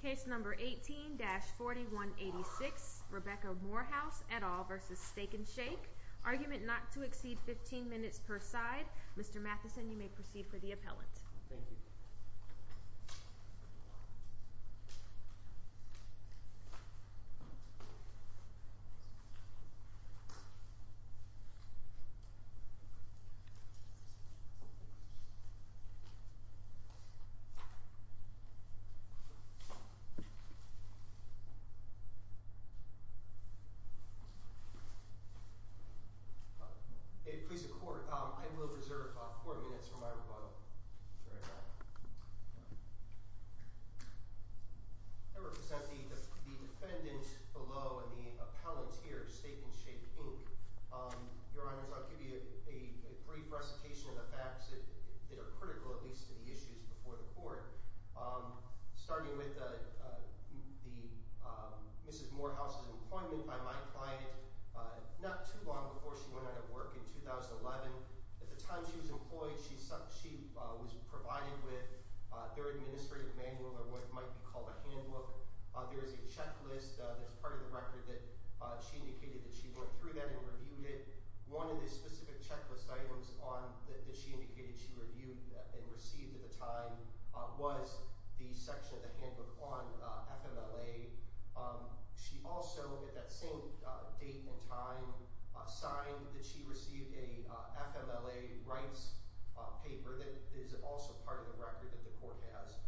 Case number 18-4186, Rebecca Morehouse et al. v. Steak N Shake. Argument not to exceed 15 minutes per side. Mr. Matheson, you may proceed for the appellant. Thank you. Please, the court. I will reserve four minutes for my rebuttal. I represent the defendant below and the appellant here, Steak N Shake Inc. Your Honors, I'll give you a brief recitation of the facts that are critical, at least to the issues before the court. Starting with Mrs. Morehouse's employment by my client not too long before she went out of work in 2011. At the time she was employed, she was provided with their administrative manual or what might be called a handbook. There is a checklist that's part of the record that she indicated that she went through that and reviewed it. One of the specific checklist items that she indicated she reviewed and received at the time was the section of the handbook on FMLA. She also, at that same date and time, signed that she received a FMLA rights paper that is also part of the record that the court has.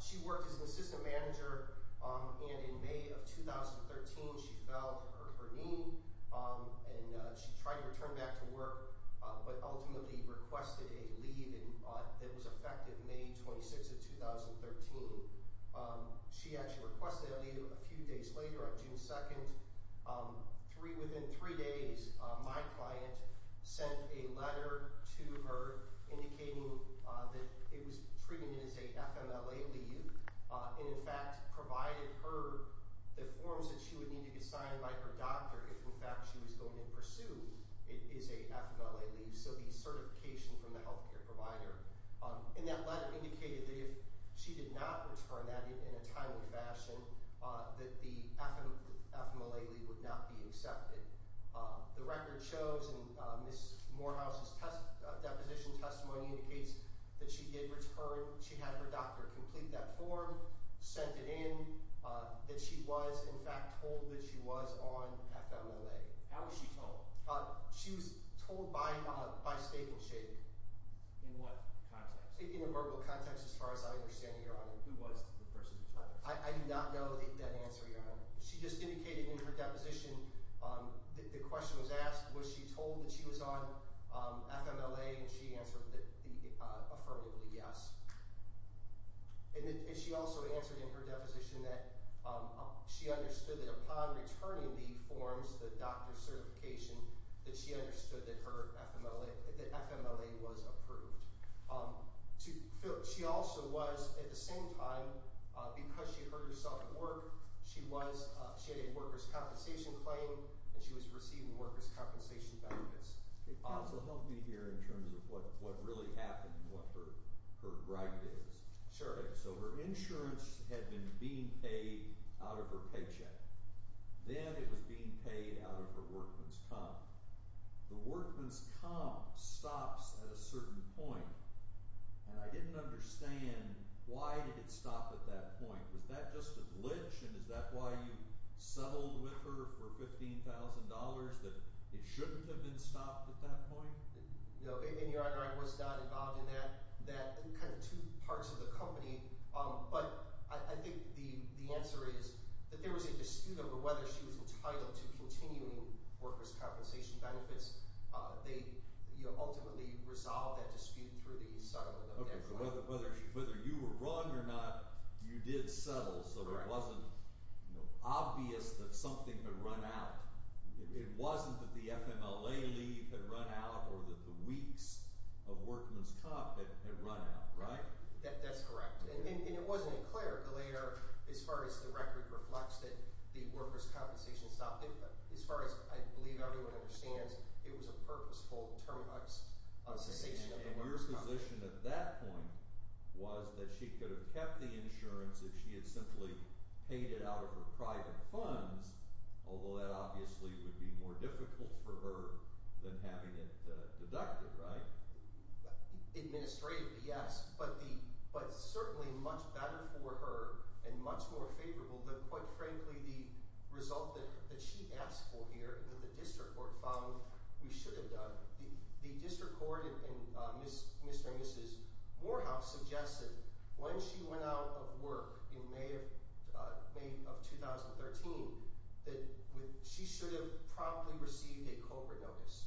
She worked as an assistant manager and in May of 2013 she fell at her knee and she tried to return back to work, but ultimately requested a leave that was effective May 26th of 2013. She actually requested a leave a few days later on June 2nd. Within three days, my client sent a letter to her indicating that it was treated as a FMLA leave and in fact provided her the forms that she would need to be signed by her doctor if in fact she was going to pursue is a FMLA leave, so the certification from the healthcare provider. That letter indicated that if she did not return that in a timely fashion, that the FMLA leave would not be accepted. The record shows in Ms. Morehouse's deposition testimony indicates that she did return. She had her doctor complete that form, sent it in, that she was in fact told that she was on FMLA. How was she told? She was told by state and state. In what context? In a verbal context as far as I understand, Your Honor. Who was the person who told her? I do not know that answer, Your Honor. She just indicated in her deposition that the question was asked was she told that she was on FMLA and she answered affirmatively yes. And she also answered in her deposition that she understood that upon returning the forms, the doctor's certification, that she understood that FMLA was approved. She also was, at the same time, because she heard herself at work, she had a workers' compensation claim and she was receiving workers' compensation benefits. Counsel, help me here in terms of what really happened and what her gripe is. Sure. So her insurance had been being paid out of her paycheck. Then it was being paid out of her workman's comp. The workman's comp stops at a certain point, and I didn't understand why did it stop at that point. Was that just a glitch and is that why you settled with her for $15,000, that it shouldn't have been stopped at that point? No, and Your Honor, I was not involved in that in kind of two parts of the company. But I think the answer is that there was a dispute over whether she was entitled to continuing workers' compensation benefits. They ultimately resolved that dispute through the settlement of FMLA. Okay, so whether you were wrong or not, you did settle so it wasn't obvious that something had run out. It wasn't that the FMLA leave had run out or that the weeks of workman's comp had run out, right? That's correct, and it wasn't clear later as far as the record reflects that the workers' compensation stopped. As far as I believe everyone understands, it was a purposeful terminus of cessation of the workers' compensation. So your position at that point was that she could have kept the insurance if she had simply paid it out of her private funds, although that obviously would be more difficult for her than having it deducted, right? Administratively, yes, but certainly much better for her and much more favorable than, quite frankly, the result that she asked for here that the district court found we should have done. The district court and Mr. and Mrs. Morehouse suggested when she went out of work in May of 2013 that she should have promptly received a COBRA notice.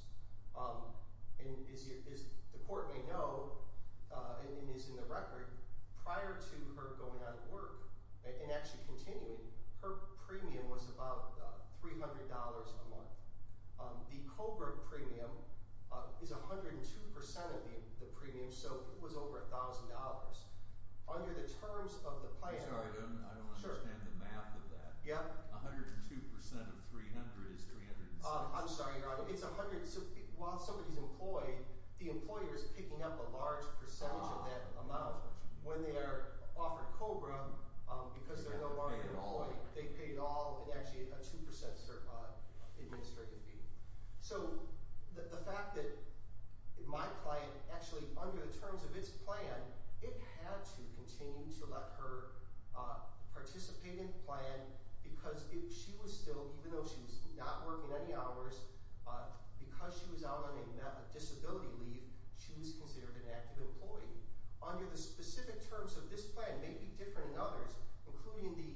As the court may know, and it is in the record, prior to her going out of work and actually continuing, her premium was about $300 a month. The COBRA premium is 102% of the premium, so it was over $1,000. Under the terms of the plan- I'm sorry, I don't understand the math of that. Yep. 102% of 300 is 360. I'm sorry, Your Honor. While somebody's employed, the employer is picking up a large percentage of that amount. When they are offered COBRA, because they're no longer employed, they pay it all in actually a 2% administrative fee. So the fact that my client actually, under the terms of its plan, it had to continue to let her participate in the plan because she was still, even though she was not working any hours, because she was out on a disability leave, she was considered an active employee. Under the specific terms of this plan, maybe different than others, including the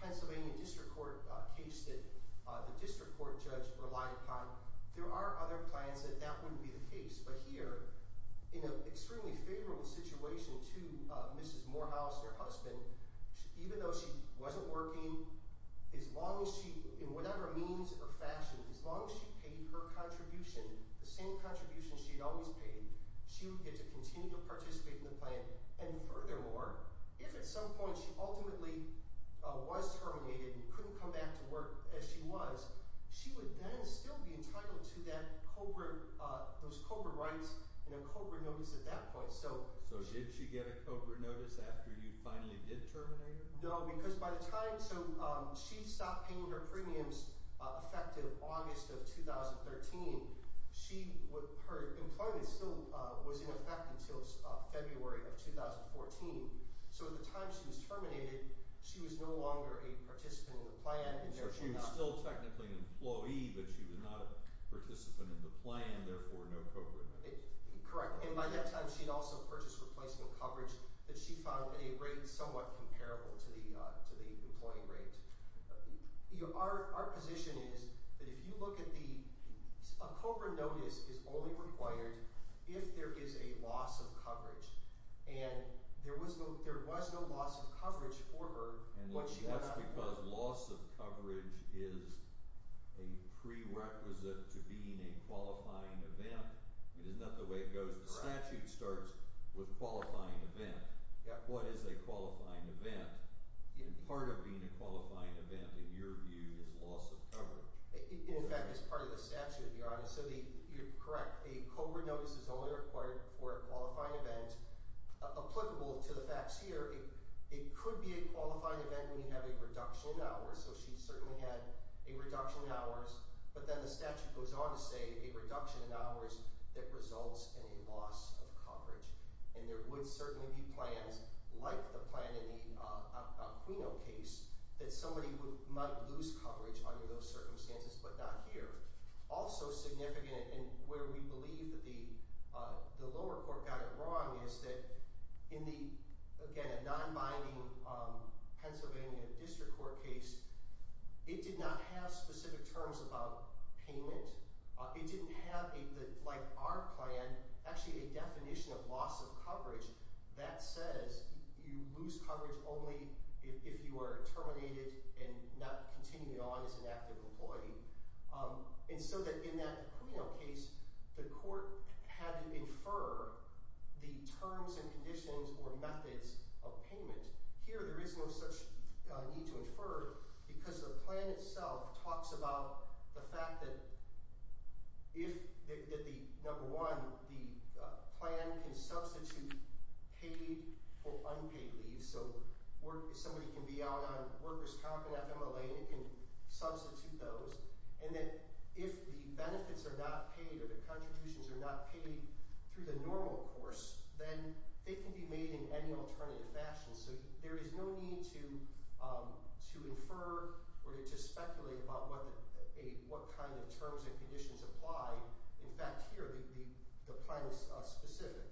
Pennsylvania District Court case that the District Court judge relied upon, there are other plans that that wouldn't be the case. But here, in an extremely favorable situation to Mrs. Morehouse, her husband, even though she wasn't working, as long as she, in whatever means or fashion, as long as she paid her contribution, the same contribution she had always paid, she would get to continue to participate in the plan. And furthermore, if at some point she ultimately was terminated and couldn't come back to work as she was, she would then still be entitled to those COBRA rights and a COBRA notice at that point. So did she get a COBRA notice after you finally did terminate her? No, because by the time – so she stopped paying her premiums effective August of 2013. Her employment still was in effect until February of 2014. So at the time she was terminated, she was no longer a participant in the plan. So she was still technically an employee, but she was not a participant in the plan, therefore no COBRA notice. Correct. And by that time, she had also purchased replacement coverage that she found at a rate somewhat comparable to the employing rate. Our position is that if you look at the – a COBRA notice is only required if there is a loss of coverage. And there was no loss of coverage for her. And that's because loss of coverage is a prerequisite to being a qualifying event. It is not the way it goes. The statute starts with qualifying event. What is a qualifying event? Part of being a qualifying event, in your view, is loss of coverage. In fact, it's part of the statute, to be honest. So you're correct. A COBRA notice is only required for a qualifying event applicable to the facts here. It could be a qualifying event when you have a reduction in hours, so she certainly had a reduction in hours. But then the statute goes on to say a reduction in hours that results in a loss of coverage. And there would certainly be plans, like the plan in the Alquino case, that somebody might lose coverage under those circumstances, but not here. Also significant, and where we believe that the lower court got it wrong, is that in the – again, a non-binding Pennsylvania district court case, it did not have specific terms about payment. It didn't have a – like our plan, actually a definition of loss of coverage that says you lose coverage only if you are terminated and not continuing on as an active employee. And so that in that Alquino case, the court had to infer the terms and conditions or methods of payment. Here there is no such need to infer because the plan itself talks about the fact that if – that the – number one, the plan can substitute paid or unpaid leave. So somebody can be out on workers' comp and FMLA and it can substitute those. And that if the benefits are not paid or the contributions are not paid through the normal course, then they can be made in any alternative fashion. So there is no need to infer or to speculate about what kind of terms and conditions apply. In fact, here the plan is specific.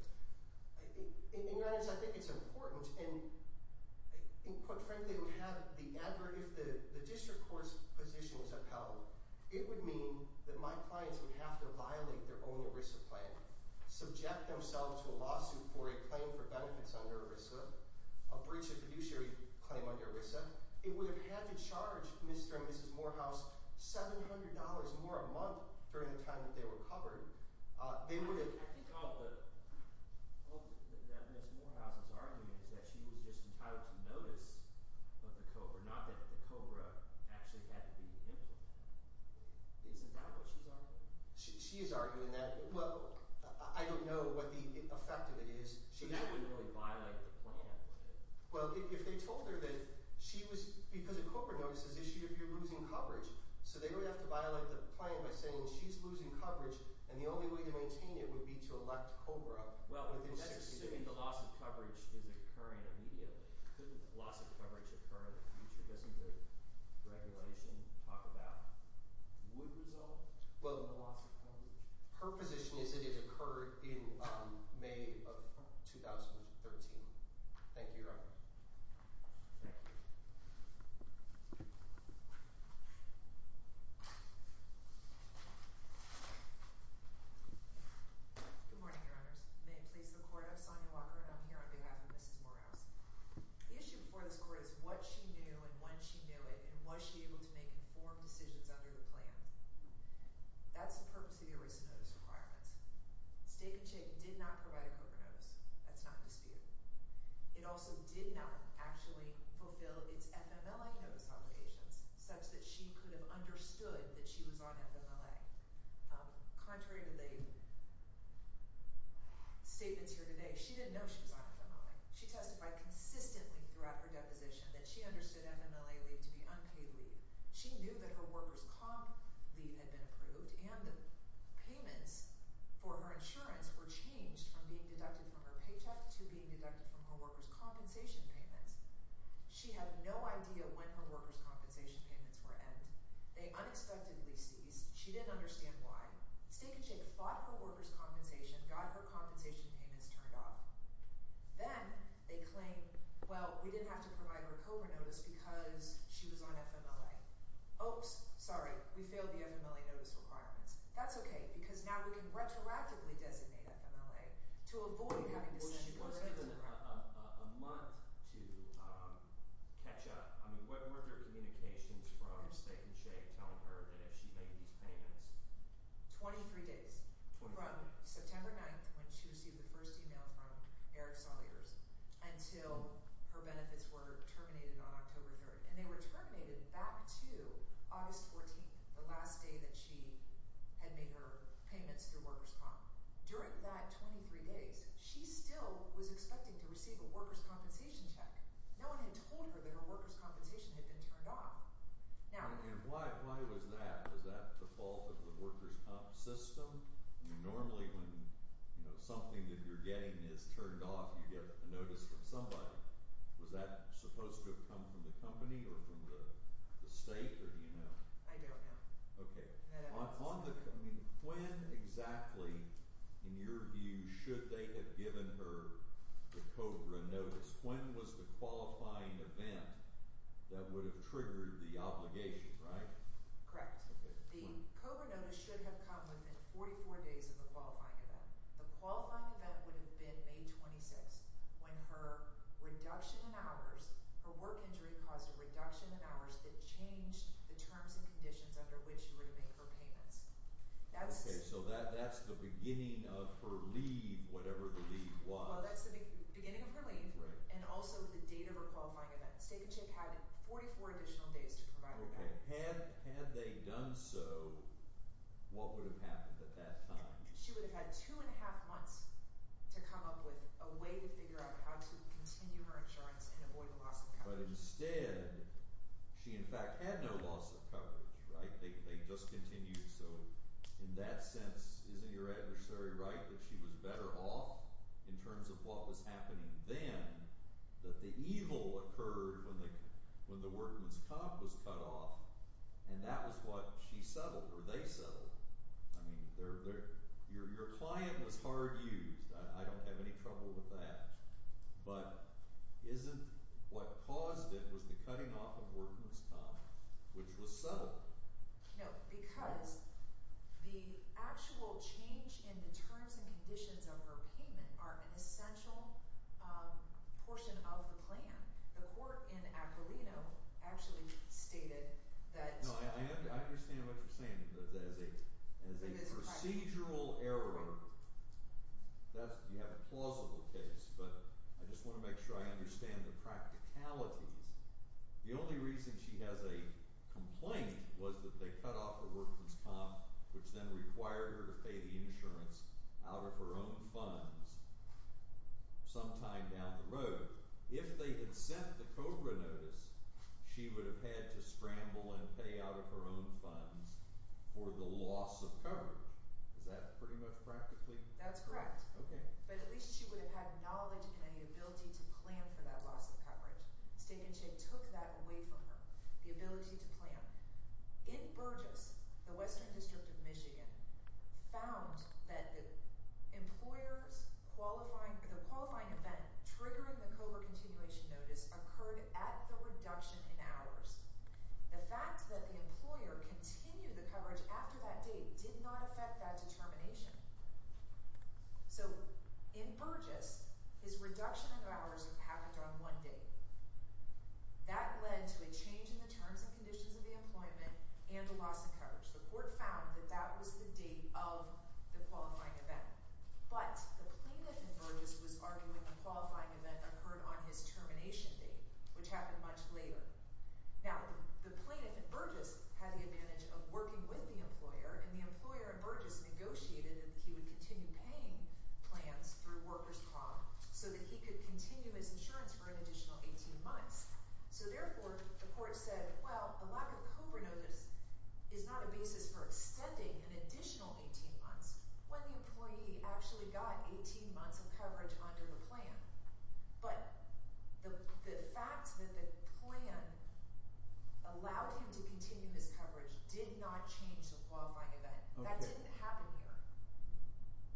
In fairness, I think it's important. And quite frankly, we have the – if the district court's position is upheld, it would mean that my clients would have to violate their own ERISA plan, subject themselves to a lawsuit for a claim for benefits under ERISA, a breach of fiduciary claim under ERISA. It would have had to charge Mr. and Mrs. Morehouse $700 more a month during the time that they were covered. They would have – I think all the – all that Mrs. Morehouse is arguing is that she was just entitled to notice of the COBRA, not that the COBRA actually had to be implemented. Isn't that what she's arguing? She is arguing that – well, I don't know what the effect of it is. So that wouldn't really violate the plan, would it? Well, if they told her that she was – because a COBRA notice is issued if you're losing coverage. So they would have to violate the plan by saying she's losing coverage, and the only way to maintain it would be to elect COBRA. Well, that's assuming the loss of coverage is occurring immediately. Couldn't loss of coverage occur in the future? Doesn't the regulation talk about would result in the loss of coverage? Her position is that it occurred in May of 2013. Thank you, Your Honor. Thank you. Good morning, Your Honors. May it please the Court, I'm Sonia Walker, and I'm here on behalf of Mrs. Morehouse. The issue before this Court is what she knew and when she knew it, and was she able to make informed decisions under the plan? That's the purpose of your recent notice of requirements. Steak and Chick did not provide a COBRA notice. That's not in dispute. It also did not actually fulfill its FMLA notice obligations such that she could have understood that she was on FMLA. Contrary to the statements here today, she didn't know she was on FMLA. She testified consistently throughout her deposition that she understood FMLA leave to be unpaid leave. She knew that her workers' comp leave had been approved and the payments for her insurance were changed from being deducted from her paycheck to being deducted from her workers' compensation payments. She had no idea when her workers' compensation payments were end. They unexpectedly ceased. She didn't understand why. Steak and Chick fought for workers' compensation, got her compensation payments turned off. Then they claimed, well, we didn't have to provide her COBRA notice because she was on FMLA. Oops, sorry. We failed the FMLA notice requirements. That's okay because now we can retroactively designate FMLA to avoid having to send COBRA to her. She was given a month to catch up. I mean, what were their communications from Steak and Chick telling her that if she made these payments? Twenty-three days. From September 9th when she received the first e-mail from Eric Solaters until her benefits were terminated on October 3rd. And they were terminated back to August 14th, the last day that she had made her payments through workers' comp. During that 23 days, she still was expecting to receive a workers' compensation check. No one had told her that her workers' compensation had been turned off. And why was that? Was that the fault of the workers' comp system? Normally when something that you're getting is turned off, you get a notice from somebody. Was that supposed to have come from the company or from the state or do you know? I don't know. Okay. I don't know. When exactly, in your view, should they have given her the COBRA notice? When was the qualifying event that would have triggered the obligation, right? Correct. The COBRA notice should have come within 44 days of the qualifying event. The qualifying event would have been May 26th when her reduction in hours, her work injury caused a reduction in hours that changed the terms and conditions under which she would have made her payments. Okay. So that's the beginning of her leave, whatever the leave was. Well, that's the beginning of her leave and also the date of her qualifying event. State and CHIP had 44 additional days to provide her that. Okay. Had they done so, what would have happened at that time? She would have had two and a half months to come up with a way to figure out how to continue her insurance and avoid loss of coverage. But instead, she in fact had no loss of coverage, right? They just continued. So in that sense, isn't your adversary right that she was better off in terms of what was happening then that the evil occurred when the workman's comp was cut off and that was what she settled or they settled? I mean, your client was hard used. I don't have any trouble with that. But isn't what caused it was the cutting off of workman's comp, which was settled? No, because the actual change in the terms and conditions of her payment are an essential portion of the plan. The court in Aquilino actually stated that… No, I understand what you're saying. But as a procedural error, you have a plausible case, but I just want to make sure I understand the practicalities. The only reason she has a complaint was that they cut off her workman's comp, which then required her to pay the insurance out of her own funds sometime down the road. If they had sent the COBRA notice, she would have had to scramble and pay out of her own funds for the loss of coverage. Is that pretty much practically… That's correct. Okay. But at least she would have had knowledge and an ability to plan for that loss of coverage. Steak and Chick took that away from her, the ability to plan. In Burgess, the Western District of Michigan, found that the qualifying event triggering the COBRA continuation notice occurred at the reduction in hours. The fact that the employer continued the coverage after that date did not affect that determination. So in Burgess, his reduction in hours happened on one date. That led to a change in the terms and conditions of the employment and the loss of coverage. The court found that that was the date of the qualifying event. But the plaintiff in Burgess was arguing the qualifying event occurred on his termination date, which happened much later. Now, the plaintiff in Burgess had the advantage of working with the employer. And the employer in Burgess negotiated that he would continue paying plans through workers' comp so that he could continue his insurance for an additional 18 months. So therefore, the court said, well, the lack of COBRA notice is not a basis for extending an additional 18 months when the employee actually got 18 months of coverage under the plan. But the fact that the plan allowed him to continue his coverage did not change the qualifying event. That didn't happen here.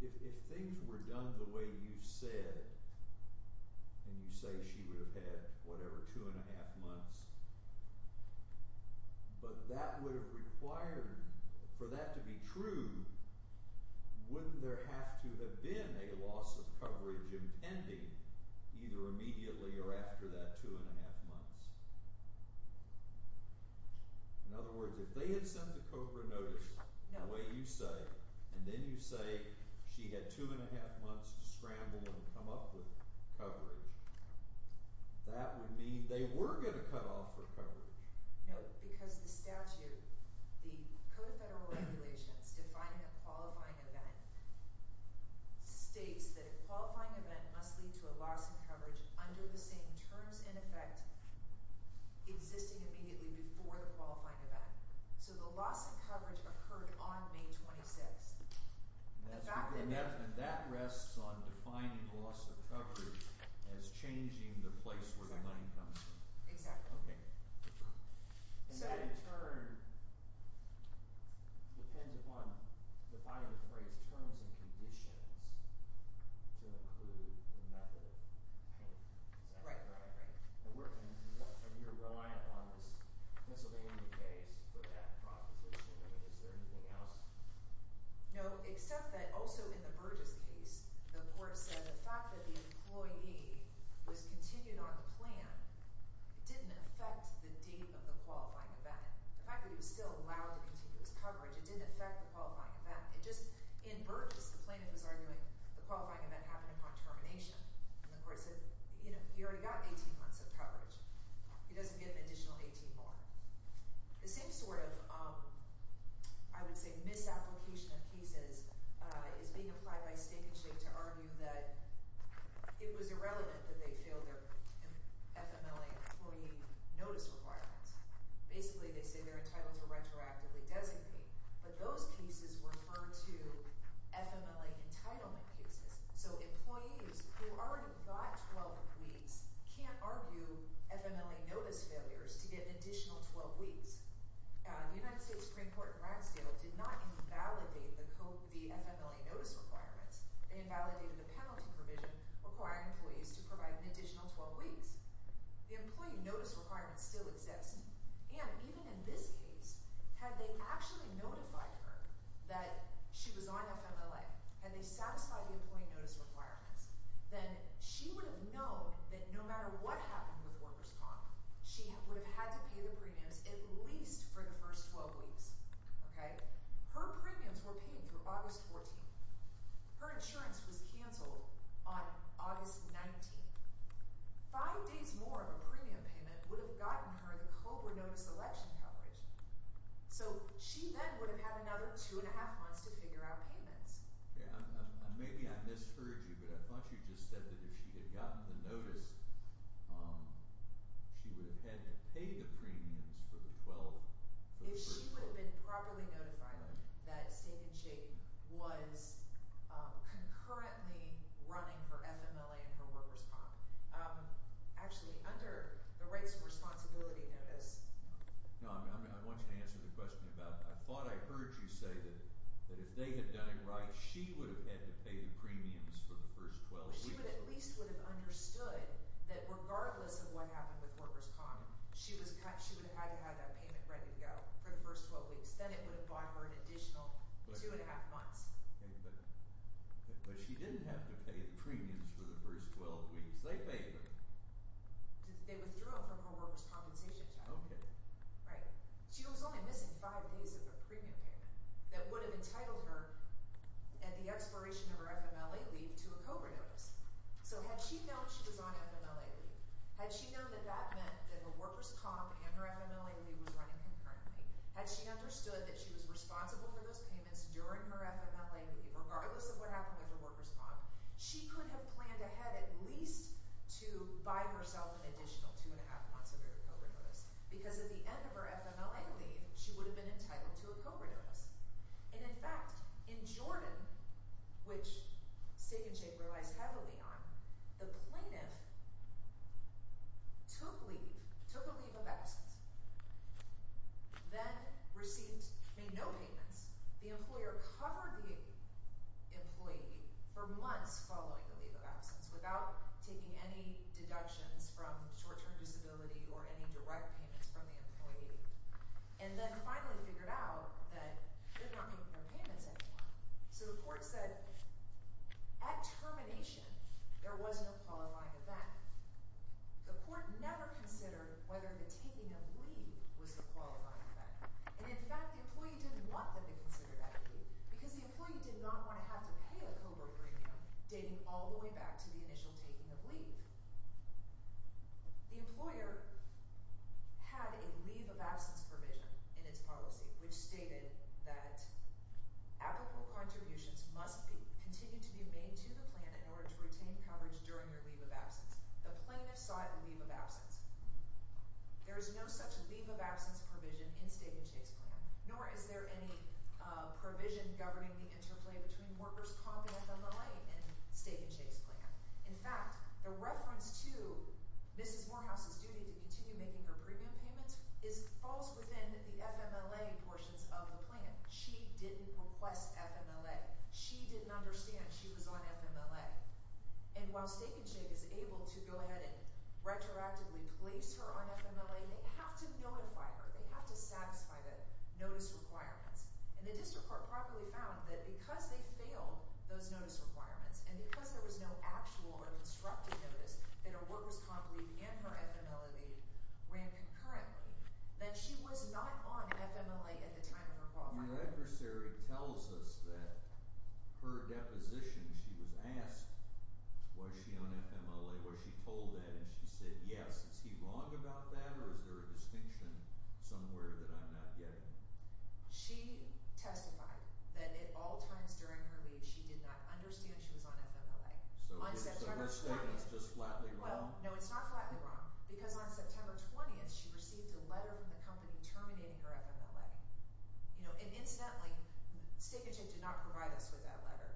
If things were done the way you said, and you say she would have had whatever, two and a half months, but that would have required for that to be true, wouldn't there have to have been a loss of coverage impending either immediately or after that two and a half months? In other words, if they had sent the COBRA notice the way you say, and then you say she had two and a half months to scramble and come up with coverage, that would mean they were going to cut off her coverage. No, because the statute, the Code of Federal Regulations defining a qualifying event states that a qualifying event must lead to a loss of coverage under the same terms in effect existing immediately before the qualifying event. So the loss of coverage occurred on May 26th. And that rests on defining the loss of coverage as changing the place where the money comes from. Exactly. Okay. And that in turn depends upon defining the phrase terms and conditions to include the method of payment. Right, right, right. And we're relying on this Pennsylvania case for that proposition. I mean, is there anything else? No, except that also in the Burgess case, the court said the fact that the employee was continued on the plan didn't affect the date of the qualifying event. The fact that he was still allowed to continue his coverage, it didn't affect the qualifying event. It just—in Burgess, the plaintiff was arguing the qualifying event happened upon termination. And the court said, you know, he already got 18 months of coverage. He doesn't get an additional 18 more. The same sort of, I would say, misapplication of cases is being applied by state and state to argue that it was irrelevant that they failed their FMLA employee notice requirements. Basically, they say they're entitled to retroactively designate. But those cases refer to FMLA entitlement cases. So employees who already got 12 weeks can't argue FMLA notice failures to get an additional 12 weeks. The United States Supreme Court in Ransdale did not invalidate the FMLA notice requirements. They invalidated the penalty provision requiring employees to provide an additional 12 weeks. The employee notice requirements still exist. And even in this case, had they actually notified her that she was on FMLA, had they satisfied the employee notice requirements, then she would have known that no matter what happened with workers' comp, she would have had to pay the premiums at least for the first 12 weeks. Okay? Her premiums were paid through August 14. Her insurance was canceled on August 19. Five days more of a premium payment would have gotten her the COBRA notice election coverage. So she then would have had another two and a half months to figure out payments. Maybe I misheard you, but I thought you just said that if she had gotten the notice, she would have had to pay the premiums for the 12 – If she would have been properly notified that Stake and Shake was concurrently running her FMLA and her workers' comp. Actually, under the Rights and Responsibility Notice. No, I want you to answer the question about – I thought I heard you say that if they had done it right, she would have had to pay the premiums for the first 12 weeks. She would at least have understood that regardless of what happened with workers' comp, she would have had to have that payment ready to go for the first 12 weeks. Then it would have bought her an additional two and a half months. But she didn't have to pay the premiums for the first 12 weeks. They paid them. They withdrew them from her workers' compensation check. Okay. Right. She was only missing five days of a premium payment that would have entitled her at the expiration of her FMLA leave to a COBRA notice. So had she known she was on FMLA leave, had she known that that meant that her workers' comp and her FMLA leave was running concurrently, had she understood that she was responsible for those payments during her FMLA leave regardless of what happened with her workers' comp, she could have planned ahead at least to buy herself an additional two and a half months of her COBRA notice because at the end of her FMLA leave, she would have been entitled to a COBRA notice. And in fact, in Jordan, which state and state relies heavily on, the plaintiff took leave, took a leave of absence, then received – made no payments. The employer covered the employee for months following the leave of absence without taking any deductions from short-term disability or any direct payments from the employee, and then finally figured out that they weren't making their payments anymore. So the court said at termination there was no qualifying event. The court never considered whether the taking of leave was the qualifying event. And in fact, the employee didn't want them to consider that leave because the employee did not want to have to pay a COBRA premium dating all the way back to the initial taking of leave. The employer had a leave of absence provision in its policy which stated that applicable contributions must continue to be made to the plan in order to retain coverage during your leave of absence. The plaintiff saw it as a leave of absence. There is no such leave of absence provision in Steak and Shake's plan, nor is there any provision governing the interplay between workers caught in the FMLA and Steak and Shake's plan. In fact, the reference to Mrs. Morehouse's duty to continue making her premium payments falls within the FMLA portions of the plan. She didn't request FMLA. She didn't understand she was on FMLA. And while Steak and Shake is able to go ahead and retroactively place her on FMLA, they have to notify her. They have to satisfy the notice requirements. And the district court properly found that because they failed those notice requirements and because there was no actual or constructive notice that a workers' comp leave and her FMLA date ran concurrently, that she was not on FMLA at the time of her qualifying. Your adversary tells us that her deposition, she was asked, was she on FMLA? Was she told that? And she said, yes. Is he wrong about that, or is there a distinction somewhere that I'm not getting? She testified that at all times during her leave, she did not understand she was on FMLA. So her statement is just flatly wrong? No, it's not flatly wrong because on September 20th, she received a letter from the company terminating her FMLA. And incidentally, Steak and Shake did not provide us with that letter,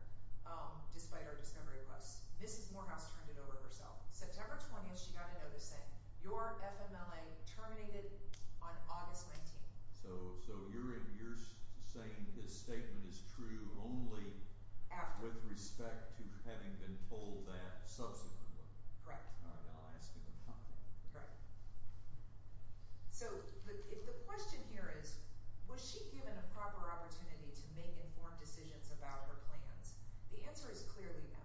despite our discovery request. Mrs. Morehouse turned it over herself. September 20th, she got a notice saying, your FMLA terminated on August 19th. So you're saying his statement is true only with respect to having been told that subsequently? Correct. All right, I'll ask him to come to me. Correct. So the question here is, was she given a proper opportunity to make informed decisions about her plans? The answer is clearly no.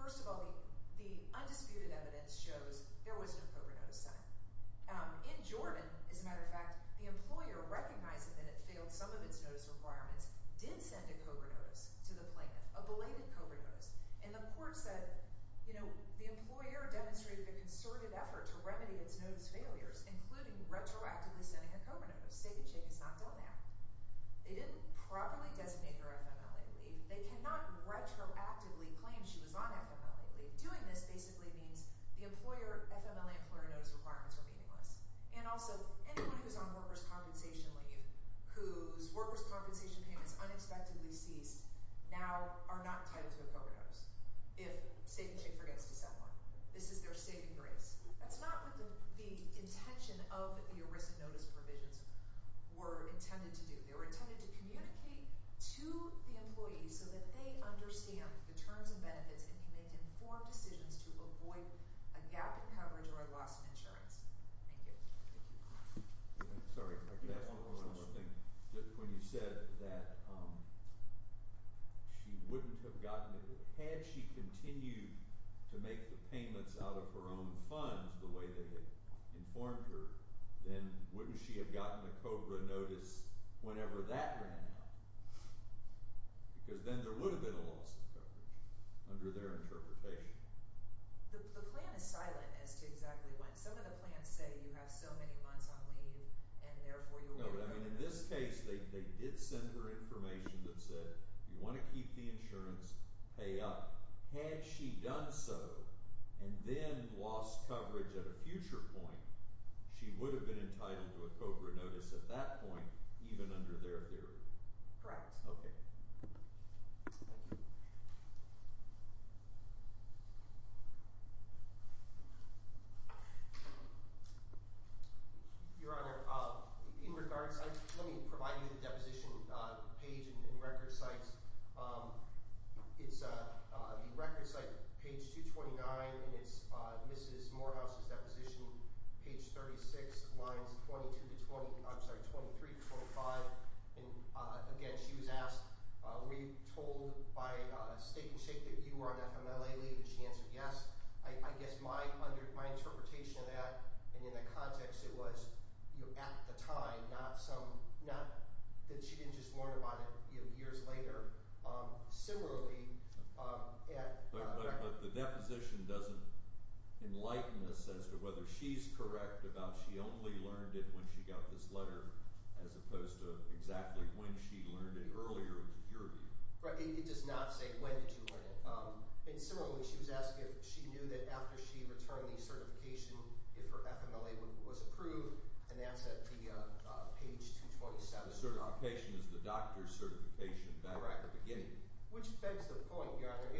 First of all, the undisputed evidence shows there was no COBRA notice sent. In Jordan, as a matter of fact, the employer, recognizing that it failed some of its notice requirements, did send a COBRA notice to the plaintiff, a belated COBRA notice. And the court said, you know, the employer demonstrated a concerted effort to remedy its notice failures, including retroactively sending a COBRA notice. Steak and Shake has not done that. They didn't properly designate her FMLA leave. They cannot retroactively claim she was on FMLA leave. Doing this basically means the employer, FMLA employer notice requirements are meaningless. And also, anyone who is on workers' compensation leave, whose workers' compensation payments unexpectedly ceased, now are not entitled to a COBRA notice. If Steak and Shake forgets to send one. This is their saving grace. That's not what the intention of the ERISA notice provisions were intended to do. They were intended to communicate to the employees so that they understand the terms and benefits and can make informed decisions to avoid a gap in coverage or a loss in insurance. Thank you. Thank you. Sorry. I could ask one more thing. Just when you said that she wouldn't have gotten it. Had she continued to make the payments out of her own funds the way they had informed her, then wouldn't she have gotten a COBRA notice whenever that ran out? Because then there would have been a loss of coverage under their interpretation. The plan is silent as to exactly when. Some of the plans say you have so many months on leave and, therefore, you're waiting. In this case, they did send her information that said you want to keep the insurance, pay up. Had she done so and then lost coverage at a future point, she would have been entitled to a COBRA notice at that point, even under their theory. Correct. Okay. Thank you. Your Honor, in regards ‑‑ let me provide you the deposition page and record sites. It's the record site, page 229, and it's Mrs. Morehouse's deposition, page 36, lines 22 to 20 ‑‑ I'm sorry, 23 to 25. Again, she was asked, were you told by State and State that you were an FMLA lead? She answered yes. I guess my interpretation of that and in that context, it was at the time, not that she didn't just learn about it years later. Similarly, at ‑‑ Yeah, but the deposition doesn't enlighten us as to whether she's correct about she only learned it when she got this letter as opposed to exactly when she learned it earlier, which is your view. Right. It does not say when did you learn it. And similarly, she was asked if she knew that after she returned the certification, if her FMLA was approved, and that's at the page 227. The certification is the doctor's certification back at the beginning. Which begs the point, Your Honor.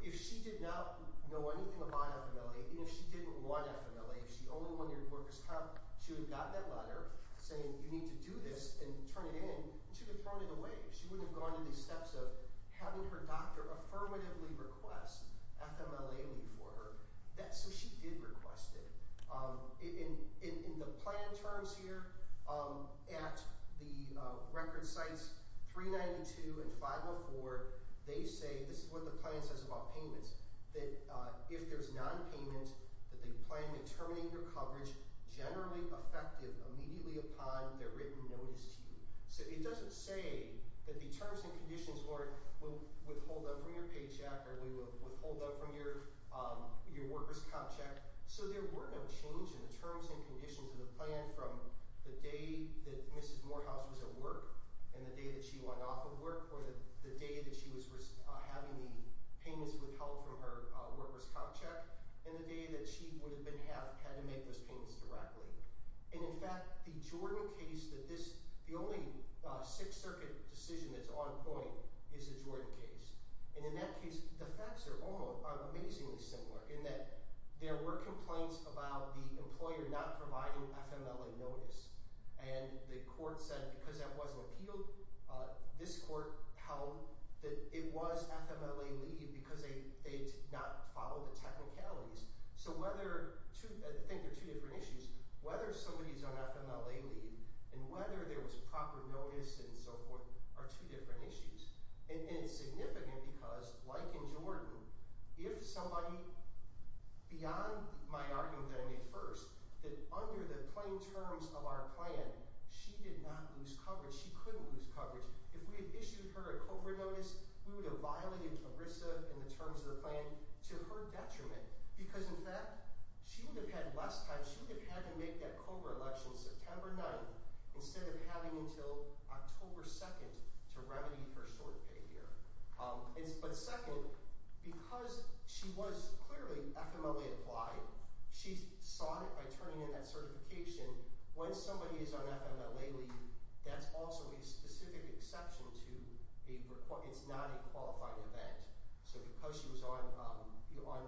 If she did not know anything about FMLA and if she didn't want FMLA, if she only wanted to work as a cop, she would have gotten that letter saying you need to do this and turn it in, and she would have thrown it away. She wouldn't have gone to the steps of having her doctor affirmatively request FMLA lead for her. So she did request it. In the plan terms here at the record sites 392 and 504, they say, this is what the plan says about payments, that if there's nonpayment, that they plan to terminate your coverage generally effective immediately upon their written notice to you. So it doesn't say that the terms and conditions were withhold them from your paycheck or withhold them from your worker's cop check. So there were no change in the terms and conditions of the plan from the day that Mrs. Morehouse was at work and the day that she went off of work or the day that she was having the payments withheld from her worker's cop check and the day that she would have had to make those payments directly. And in fact, the Jordan case that this – the only Sixth Circuit decision that's on point is the Jordan case. And in that case, the facts are amazingly similar in that there were complaints about the employer not providing FMLA notice. And the court said because that wasn't appealed, this court held that it was FMLA lead because they did not follow the technicalities. So whether – I think they're two different issues. Whether somebody's on FMLA lead and whether there was proper notice and so forth are two different issues. And it's significant because, like in Jordan, if somebody – beyond my argument that I made first, that under the plain terms of our plan, she did not lose coverage, she couldn't lose coverage. If we had issued her a COBRA notice, we would have violated ERISA and the terms of the plan to her detriment because, in fact, she would have had less time. She would have had to make that COBRA election September 9th instead of having until October 2nd to remedy her short pay here. But second, because she was clearly FMLA-applied, she sought it by turning in that certification. When somebody is on FMLA lead, that's also a specific exception to a – it's not a qualifying event. So because she was on FMLA,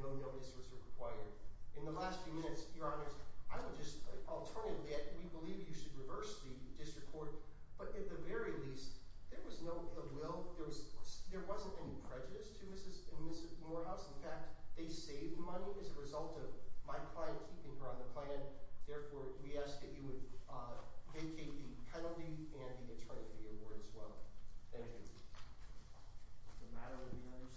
no notice was required. In the last few minutes, Your Honors, I would just – alternatively, we believe you should reverse the district court. But at the very least, there was no ill will. There wasn't any prejudice to Mrs. Morehouse. In fact, they saved money as a result of my plan keeping her on the plan. Therefore, we ask that you would vacate the penalty and the attorney fee award as well. Thank you. Is there a matter of the Honor's decision?